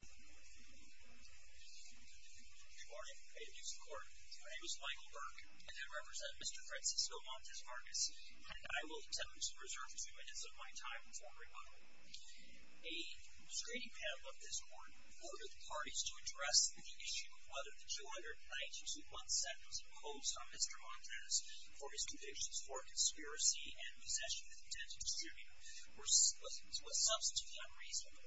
Good morning. I introduce the court. My name is Michael Burke, and I represent Mr. Francisco Montes-Vargas, and I will attempt to reserve two minutes of my time before rebuttal. A screening panel of this court ordered the parties to address the issue of whether the 292-1 sentence imposed on Mr. Montes for his convictions for conspiracy and possession with intent to distribute was substantively unreasonable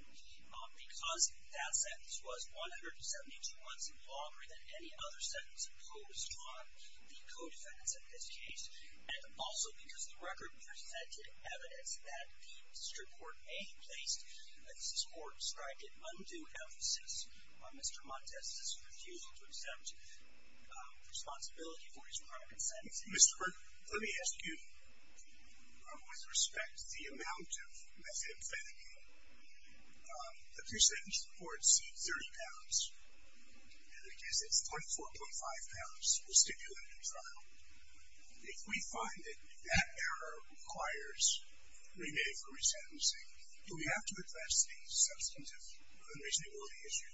because that sentence was 172 months longer than any other sentence imposed on the co-defendants in this case, and also because the record presented evidence that the district court may have placed, as this court described it, undue emphasis on Mr. Montes' refusal to accept responsibility for his conduct in sentencing. Mr. Burke, let me ask you, with respect to the amount of method of fatiguing, the pre-sentence report said 30 pounds, and it says it's 34.5 pounds was stipulated in trial. If we find that that error requires remand for resentencing, do we have to address the substantive unreasonability issue?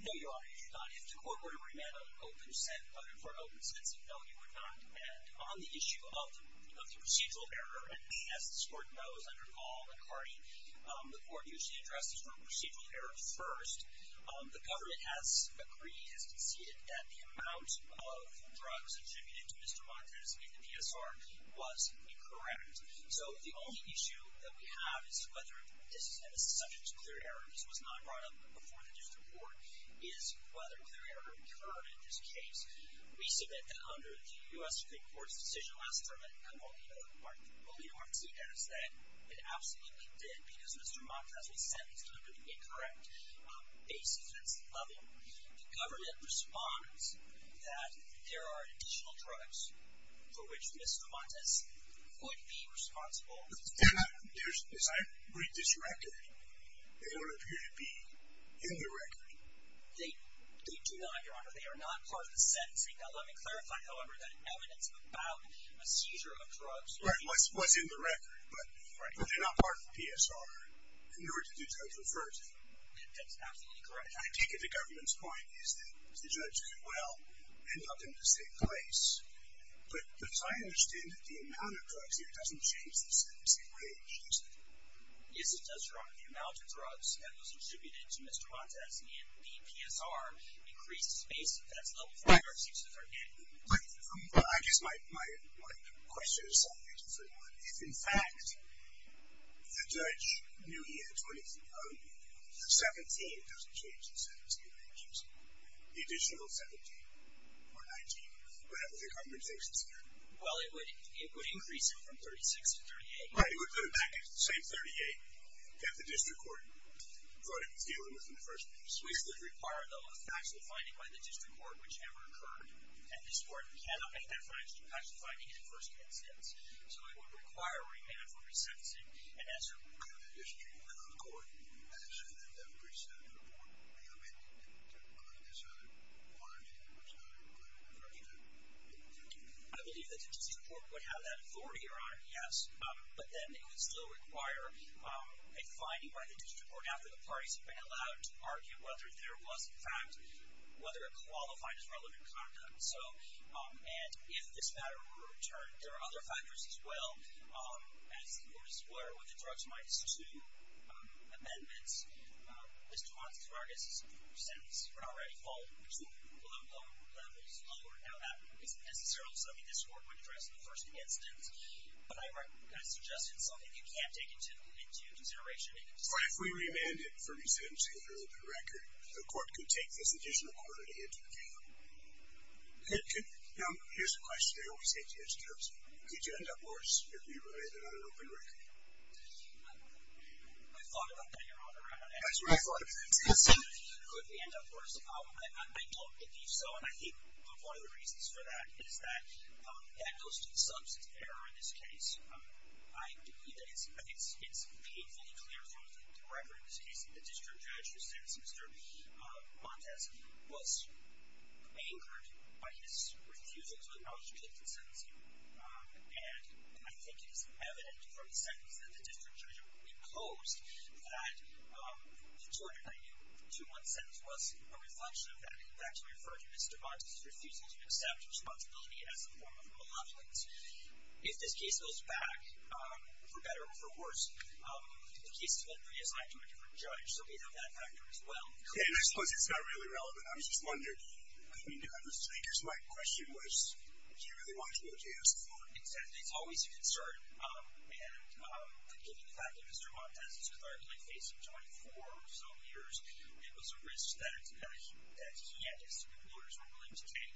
No, Your Honor, you do not. If the court were to remand for open sentencing, no, you would not. And on the issue of the procedural error, and as this court knows under Gall and Hardy, the court usually addresses the procedural error first. The government has agreed, has conceded, that the amount of drugs attributed to Mr. Montes in the PSR was incorrect. So the only issue that we have is whether this is subject to clear error. This was not brought up before the district court, is whether clear error occurred in this case. We submit that under the U.S. Supreme Court's decision last term, and I will leave it up to Martínez, that it absolutely did, because Mr. Montes was sentenced under the incorrect basis that's loving. The government responds that there are additional drugs for which Mr. Montes would be responsible. As I read this record, they don't appear to be in the record. They do not, Your Honor. They are not part of the sentencing. Now, let me clarify, however, that evidence about a seizure of drugs was in the record, but they're not part of the PSR, in order to do judgment first. That's absolutely correct. I take it the government's point is that the judge could well end up in the same place, but as I understand it, the amount of drugs here doesn't change the sentencing range, does it? Yes, it does, Your Honor. The amount of drugs that was attributed to Mr. Montes in the PSR increased the space that's level 5 or 6, as I recall. I guess my question is, if in fact, the judge knew he had 23 of them, 17 doesn't change the sentencing range, does it? The additional 17 or 19, whatever the government thinks Well, it would increase it from 36 to 38. Right, it would put it back at the same 38 that the district court brought it into dealing with in the first place. This would require, though, a factual finding by the district court, which never occurred, and this court cannot make that factual finding in the first instance. So it would require a remand for resentencing, and as a result... Could the district court, as a representative of the court, be amended to include this other I believe the district court would have that authority, Your Honor, yes, but then it would still require a finding by the district court after the parties have been allowed to argue whether there was, in fact, whether it qualified as relevant conduct. So, and if this matter were returned, there are other factors as well. As the court is aware, with the drugs minus 2 amendments, Mr. Montes' sentences are already falling to low levels, lower. Now that isn't necessarily something this court would address in the first instance, but I kind of suggested something that you can't take into consideration. Right, if we remanded for resentencing under open record, the court could take this additional authority into account. Now, here's a question I always hate to ask folks. Could you end up worse if you remanded on an open record? I've thought about that, Your Honor. Could we end up worse? I don't believe so, and I think one of the reasons for that is that that goes to the substance of error in this case. I believe that it's painfully clear from the record in this case that the district judge who sentenced Mr. Montes was angered by his refusal to acknowledge the guilty sentence here. And I think it is evident from the sentence that the district judge reposed that the 2-1 sentence was a reflection of that. In fact, to refer to Mr. Montes' refusal to accept responsibility as a form of malevolence. If this case goes back, for better or for worse, the case is then reassigned to a different judge, so we have that factor as well. Okay, I suppose it's not really relevant. I was just wondering, because my question was, do you really want to go to jail? Well, it's always a concern. And given the fact that Mr. Montes is currently facing 24 or so years, it was a risk that he and his superiors were willing to take.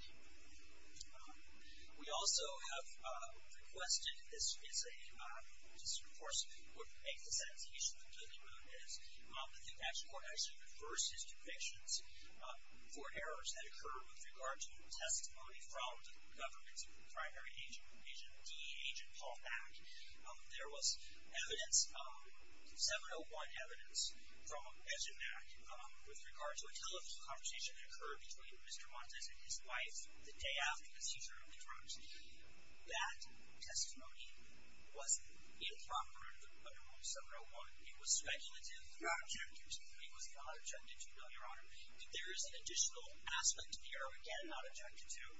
We also have requested, this is a, this of course would make the sentencing issue of Mr. Montes. I think that court actually reversed his convictions for errors that occurred with regard to testimony from the government's primary agent, DEA agent Paul Back. There was evidence, 701 evidence, from Ejen Back with regard to a television conversation that occurred between Mr. Montes and his wife the day after the seizure of the drugs. That testimony was improper under Rule 701. It was speculative. It was not objective. It was not objective, no, Your Honor. There is an additional aspect here, again, not objective too,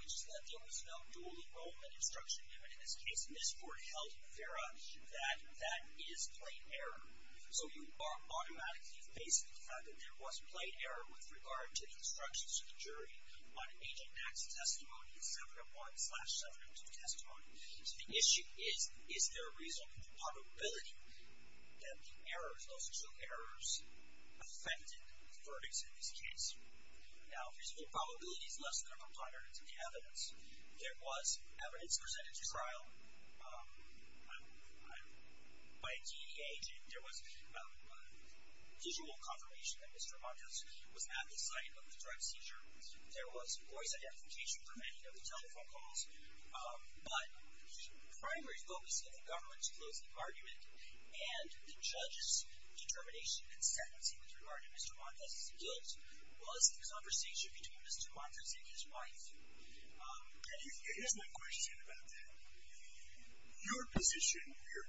which is that there was no dual enrollment instruction given in this case. And this court held, Farah, that that is plain error. So you are automatically facing the fact that there was plain error with regard to the instructions of the jury on Ejen Back's testimony in 701-702 testimony. So the issue is, is there a reasonable probability that the errors, those two errors, affected the verdicts in this case? Now, reasonable probability is less than a component of the evidence. There was evidence presented to trial by a DEA agent. There was visual confirmation that Mr. Montes was at the site of the drug seizure. There was voice identification for many of the telephone calls. But the primary focus of the government's closing argument and the judge's determination and sentencing with regard to Mr. Montes' guilt was the conversation between Mr. Montes and his wife. And here's my question about that. Your position, your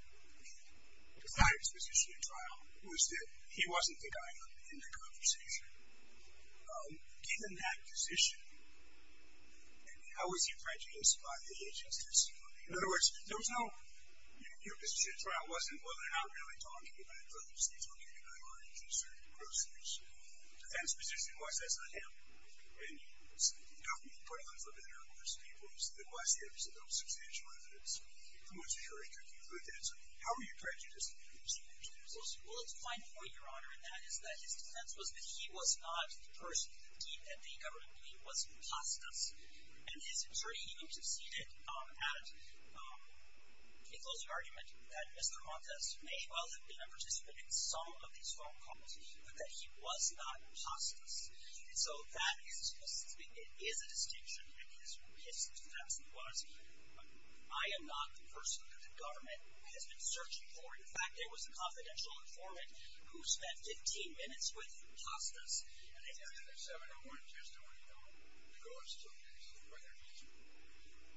client's position at trial, was that he wasn't the guy in the conversation. Given that position, how was he prejudiced by the agent's testimony? In other words, there was no, your position at trial wasn't, well, they're not really talking about drugs. They're talking about drug users and groceries. Defense position was, that's not him. And you said, you know, we put him in front of numerous people. You said that was him. You said there was substantial evidence. I'm not sure I could conclude that. So how were you prejudiced against him? Well, it's a fine point, Your Honor. And that is that his defense was that he was not the person that he and the government believed was an impostor. And his attorney even conceded at a closing argument that Mr. Montes may well have been a participant in some of these phone calls, but that he was not an imposter. And so that is a distinction. And his defense was, I am not the person that the government has been searching for. In fact, there was a confidential informant who spent 15 minutes with Costas, and they found him. And in the 7-0-1 testimony, you know, the goal is to investigate whether he's an imposter.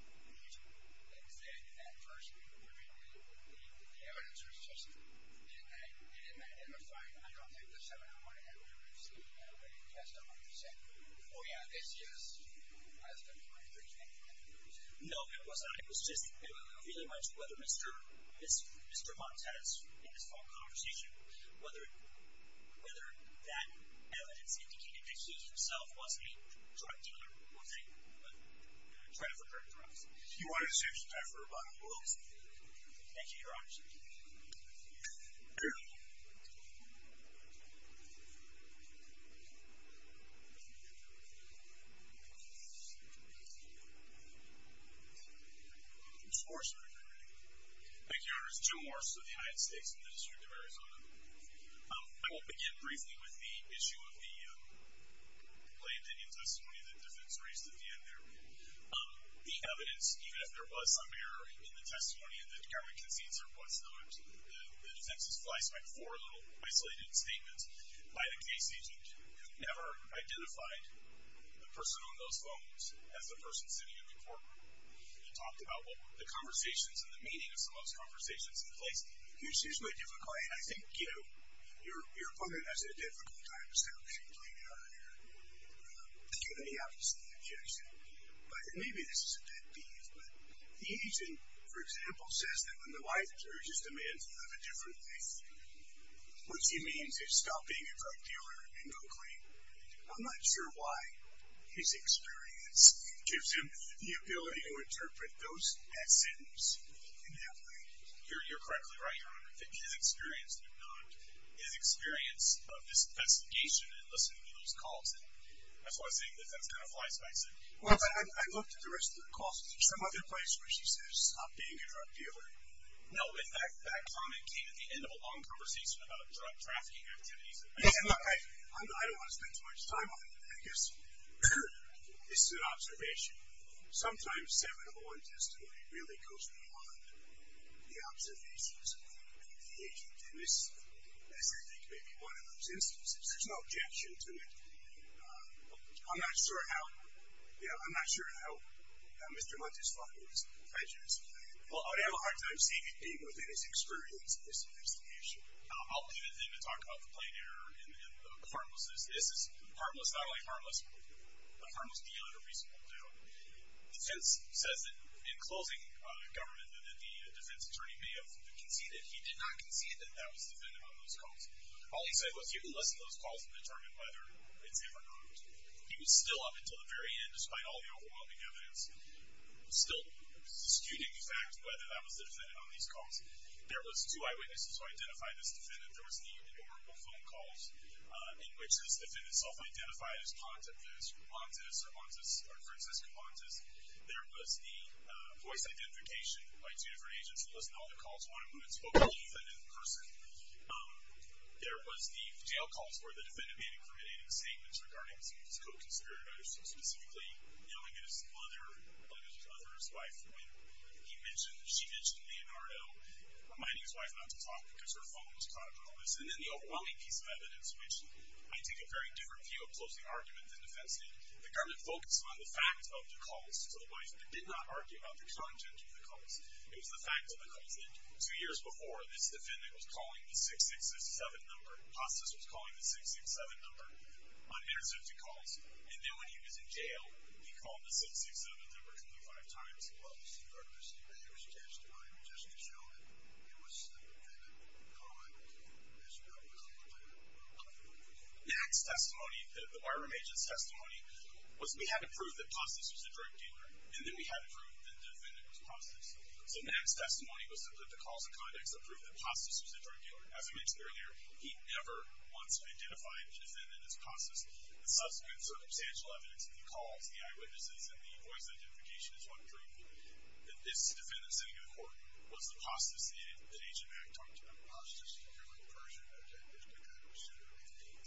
And he's an imposter. Is that adverse? I mean, the evidence was just in that. And the fact, I don't think the 7-0-1 had what it would have seen. I don't think it passed 100 percent. Oh, yeah, this is, you know, I was going to be right. But you can't conclude that. No, it was not. I don't know really much whether Mr. Montes, in this phone conversation, whether that evidence indicated that he himself was a drug dealer or thing. But I'm trying to figure it out. He wanted to save his time for a bottle of whiskey. Thank you, Your Honor. Thank you. Mr. Morse, if I could. Thank you, Your Honors. Jim Morse with the United States and the District of Arizona. I will begin briefly with the issue of the plaintiff in testimony that defense raised at the end there. The evidence, even if there was some error in the testimony that the government concedes or what's known as the defense's fly swipe for a little isolated statement by the case agent, who never identified the person on those phones as the person sitting in the courtroom. You talked about the conversations and the meaning of some of those conversations in place. It's usually difficult. And I think, you know, you're putting it as a difficult time to start. I'm not sure why his experience gives him the ability to interpret those essence in that way. You're correctly right, Your Honor. His experience, if not his experience of this investigation and listening to those calls, and that's why I'm saying that that's kind of fly swiping. Well, I looked at the rest of the calls. Is there some other place where she says, stop being a drug dealer? No. In fact, that comment came at the end of a long conversation about drug trafficking activities. Yeah. Look, I don't want to spend too much time on it. I guess this is an observation. Sometimes 701 testimony really goes beyond the observations of the agent. And this is, I think, maybe one of those instances. There's no objection to it. I'm not sure how, you know, I'm not sure how Mr. Monteslavo is prejudiced. I would have a hard time seeing it being within his experience of this investigation. I'll leave it then to talk about the plain error and the harmlessness. This is harmless, not only harmless, but a harmless deal and a reasonable deal. The defense says that in closing government that the defense attorney may have conceded. He did not concede that that was the defendant on those calls. All he said was, you can listen to those calls and determine whether it's ever proved. He was still up until the very end, despite all the overwhelming evidence, still disputing the fact whether that was the defendant on these calls. There was two eyewitnesses who identified this defendant. There was the adorable phone calls in which this defendant self-identified as Montes or Francesca Montes. There was the voice identification by two different agents who listened to all the calls, one of whom had spoken to the defendant in person. There was the jail calls where the defendant made incriminating statements regarding some of his co-conspirators, specifically yelling at his mother, yelling at his mother, his wife, when he mentioned, she mentioned Leonardo, reminding his wife not to talk because her phone was caught in all this. And then the overwhelming piece of evidence, which I take a very different view of closely, argument than defense did, the government focused on the fact of the calls to the wife. It did not argue about the content of the calls. It was the fact of the calls. Two years before, this defendant was calling the 6667 number. Hostess was calling the 667 number unanswered to calls. And then when he was in jail, he called the 667 number 25 times. Well, Mr. Gardner, this defendant was a testimony of Francesca's children. It was the defendant's comment as to whether or not it looked like a testimony. The barroom agent's testimony was we had to prove that Hostess was a drug dealer, and then we had to prove that the defendant was Hostess. So the man's testimony was to put the calls in context of proof that Hostess was a drug dealer. As I mentioned earlier, he never once identified the defendant as Hostess. The subsequent circumstantial evidence of the calls, the eyewitnesses, and the voice identification is one proof that this defendant sitting in the court was the Hostess that Agent Mack talked about. Hostess, you're like a Persian meditator.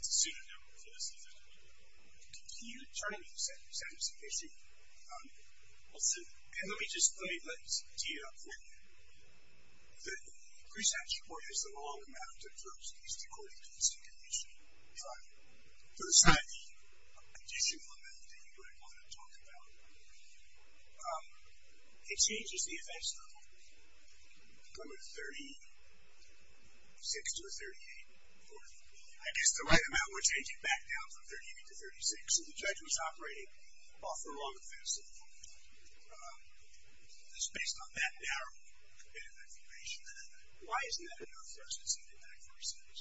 It's a pseudonym for this defendant. Can you turn to me for a second just in case you want to? I'll sit down. And let me just let you speed it up for me. The prescription court has a long amount of drugs used according to the circumvention trial. There's such a conditional amount that you wouldn't want to talk about. It changes the offense level. From a 36 to a 38. I guess the right amount would change it back down from 38 to 36. So the judge was operating off the wrong offense level. It's based on that narrow bit of information. Why isn't that enough for us to see the adverse effect?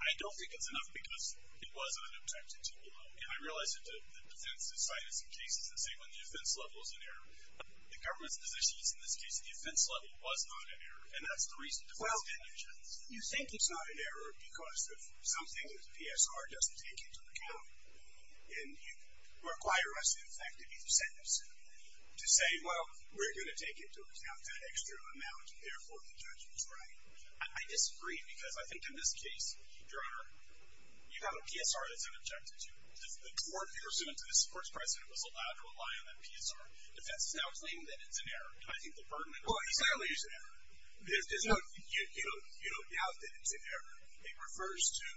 I don't think it's enough because it wasn't an objective trial. And I realize that the defense has cited some cases that say when the offense level is an error. The government's position is, in this case, the offense level was not an error. And that's the reason the defense didn't judge it. You think it's not an error because of something that the PSR doesn't take into account. And you require us, in fact, to be the sentencing. To say, well, we're going to take into account that extra amount, and therefore the judge was right. I disagree because I think in this case, Your Honor, you have a PSR that's an objective too. The court's president was allowed to rely on that PSR. The defense is now claiming that it's an error. And I think the burden is on the defense. Well, exactly. You don't doubt that it's an error. It refers to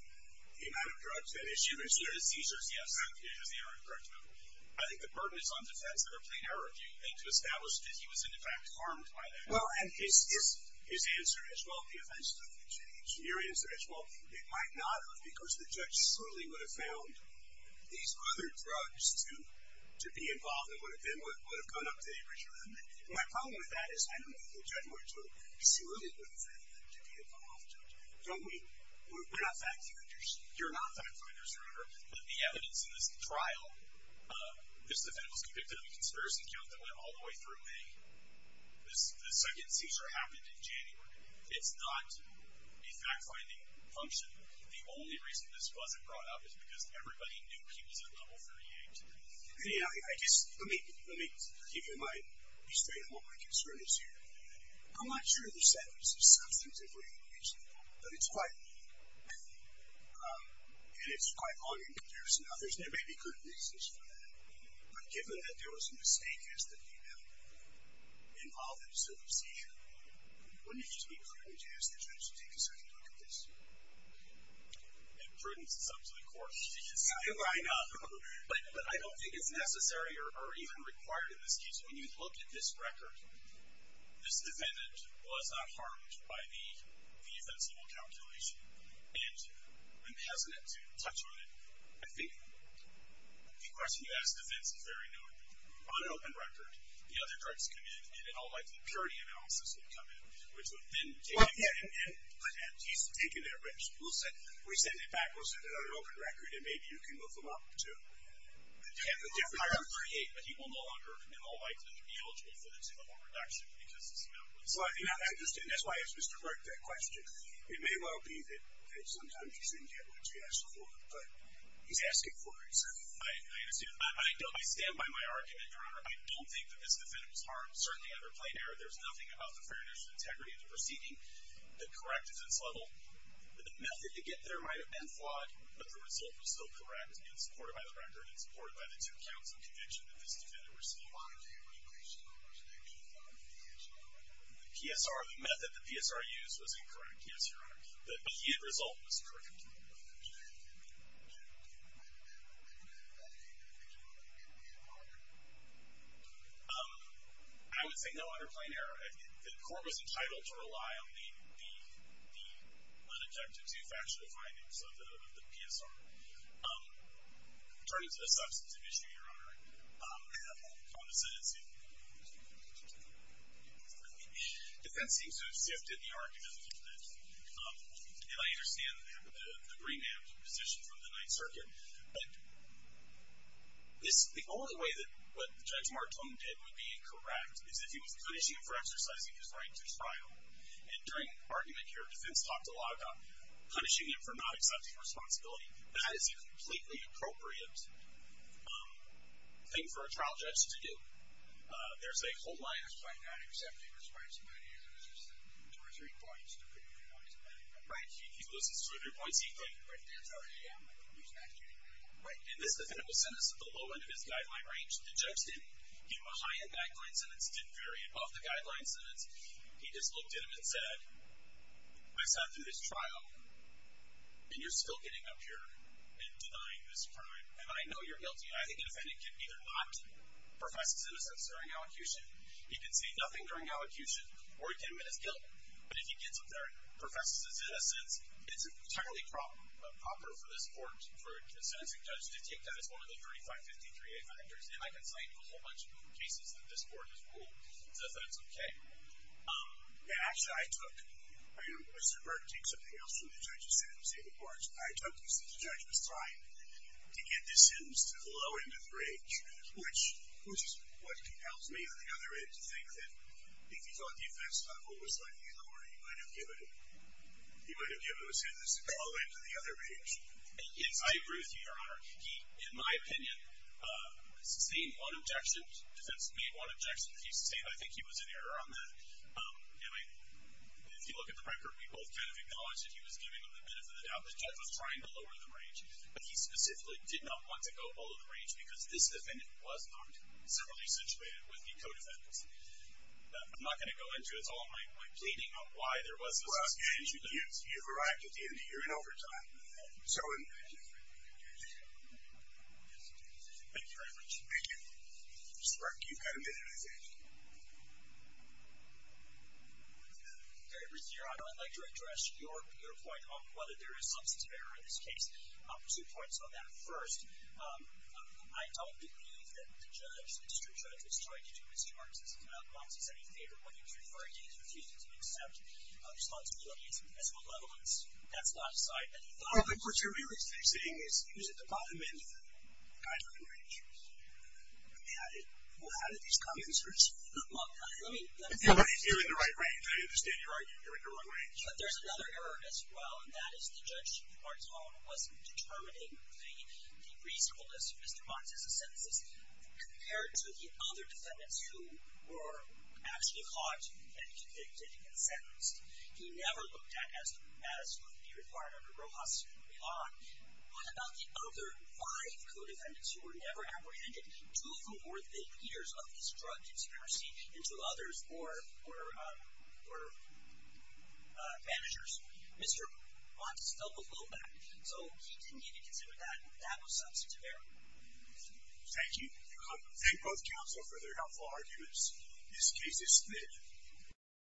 the amount of drugs that is used. You consider the seizures, yes. I don't think it is an error. Correct me if I'm wrong. I think the burden is on defense. They're a plain error of you to establish that he was, in fact, harmed by that. Well, and his answer is, well, the offense doesn't change. Your answer is, well, it might not have because the judge surely would have found these other drugs to be involved and would have gone up to Average for that. My problem with that is I don't think the judge would have surely would have found them to be involved. We're not fact-finders. You're not fact-finders, Your Honor. The evidence in this trial, this defendant was convicted of a conspiracy count that went all the way through May. The second seizure happened in January. It's not a fact-finding function. The only reason this wasn't brought up is because everybody knew he was at level 38. Anyhow, I just, let me, let me give you my, be straight on what my concern is here. I'm not sure the sentence is substantively reasonable, but it's quite, and it's quite long in comparison. Now, there may be good reasons for that, but given that there was a mistake as the defendant involved in the case, we couldn't use the judge to take a second look at this. It burdens us up to the core. I know. But I don't think it's necessary or even required in this case. When you look at this record, this defendant was not harmed by the, the offense level calculation. And I'm hesitant to touch on it. I think the question you ask the defense is very known. On open record, the other drugs come in, and all of the purity analysis would come in, which would then take him in. He's taken that risk. We'll send it back. We'll send it on an open record, and maybe you can look them up, too. I don't create, but he will no longer, in all likelihood, be eligible for the minimum reduction because of this amount. I understand. That's why I asked Mr. Burke that question. It may well be that sometimes you didn't get what you asked for, but he's asking for it. I understand. I stand by my argument, Your Honor. I don't think that this defendant was harmed. Certainly, under plain error, there's nothing about the fairness and integrity of the proceeding that corrected this level. The method to get there might have been flawed, but the result was still correct and supported by the record and supported by the two counts of conviction that this defendant received. Why didn't you increase the number of sections on the PSR? The PSR, the method the PSR used was incorrect, yes, Your Honor. But the end result was correct. Why didn't you increase the number of sections on the PSR? I would say no under plain error. The court was entitled to rely on the unobjective, two-factor findings of the PSR. Turning to the substance of the issue, Your Honor, on the sentencing, the defense seems to have sifted the argument a little bit. And I understand the remand position from the Ninth Circuit. But the only way that what Judge Martone did would be correct is if he was punishing him for exercising his right to trial. And during the argument here, defense talked a lot about punishing him for not accepting responsibility. That is a completely appropriate thing for a trial judge to do. There's a whole line. Just by not accepting responsibility, he loses two or three points depending on who he's punishing. Right. He loses 200 points each time. That's already an excuse not to do anything. Right. And this defendant was sentenced at the low end of his guideline range. The judge didn't give him a high-end backline sentence, didn't vary above the guideline sentence. He just looked at him and said, I sat through this trial, and you're still getting up here and denying this crime. And I know you're guilty. I think a defendant can either not profess his innocence during elocution. He can say nothing during elocution, or he can admit his guilt. But if he gets up there and professes his innocence, it's an entirely proper for this court for a sentencing judge to take that as one of the 3553A factors. And I can cite a whole bunch of other cases that this court has ruled as offensive. Actually, I took Mr. Burke to take something else from the judge's sentencing reports. I took this to the judge was trying to get this sentence to the low end of the range, which is what compels me, on the other hand, to think that if you thought the offense level was slightly lower, you might have given him a sentence to go all the way to the other range. I agree with you, Your Honor. He, in my opinion, sustained one objection. The defense made one objection that he sustained. I think he was in error on that. If you look at the record, we both kind of acknowledge that he was giving the benefit of the doubt. The judge was trying to lower the range, but he specifically did not want to go all of the range because this defendant was not similarly situated with the co-defendants. I'm not going to go into it. It's all in my pleading on why there was a substantial difference. Well, you've arrived at the end of your in overtime. So in… Thank you very much. Thank you. Mr. Burke, you've got a minute, I think. Very briefly, Your Honor, I'd like to address your point on whether there is substance of error in this case. Two points on that. First, I don't believe that the judge, the district judge, was trying to do his charges. Once he said he favored what he was referring to, he refused to accept responsibility as a malevolence. That's not beside any thought. No, but what you're really saying is he was at the bottom end of the guideline range. Well, how did these come in, sirs? Well, let me… You're in the right range. I understand your argument. You're in the wrong range. But there's another error as well, and that is the judge, on his own, was determining the reasonableness of Mr. Montes' sentences. Compared to the other defendants who were actually caught and convicted and sentenced, he never looked at as would be required under Rojas' law. What about the other five co-defendants who were never apprehended, two of whom were the leaders of this drug conspiracy, and two others were managers? Mr. Montes dealt with low back, so he didn't even consider that. That was substantive error. Thank you. Thank both counsel for their helpful arguments. This case is split.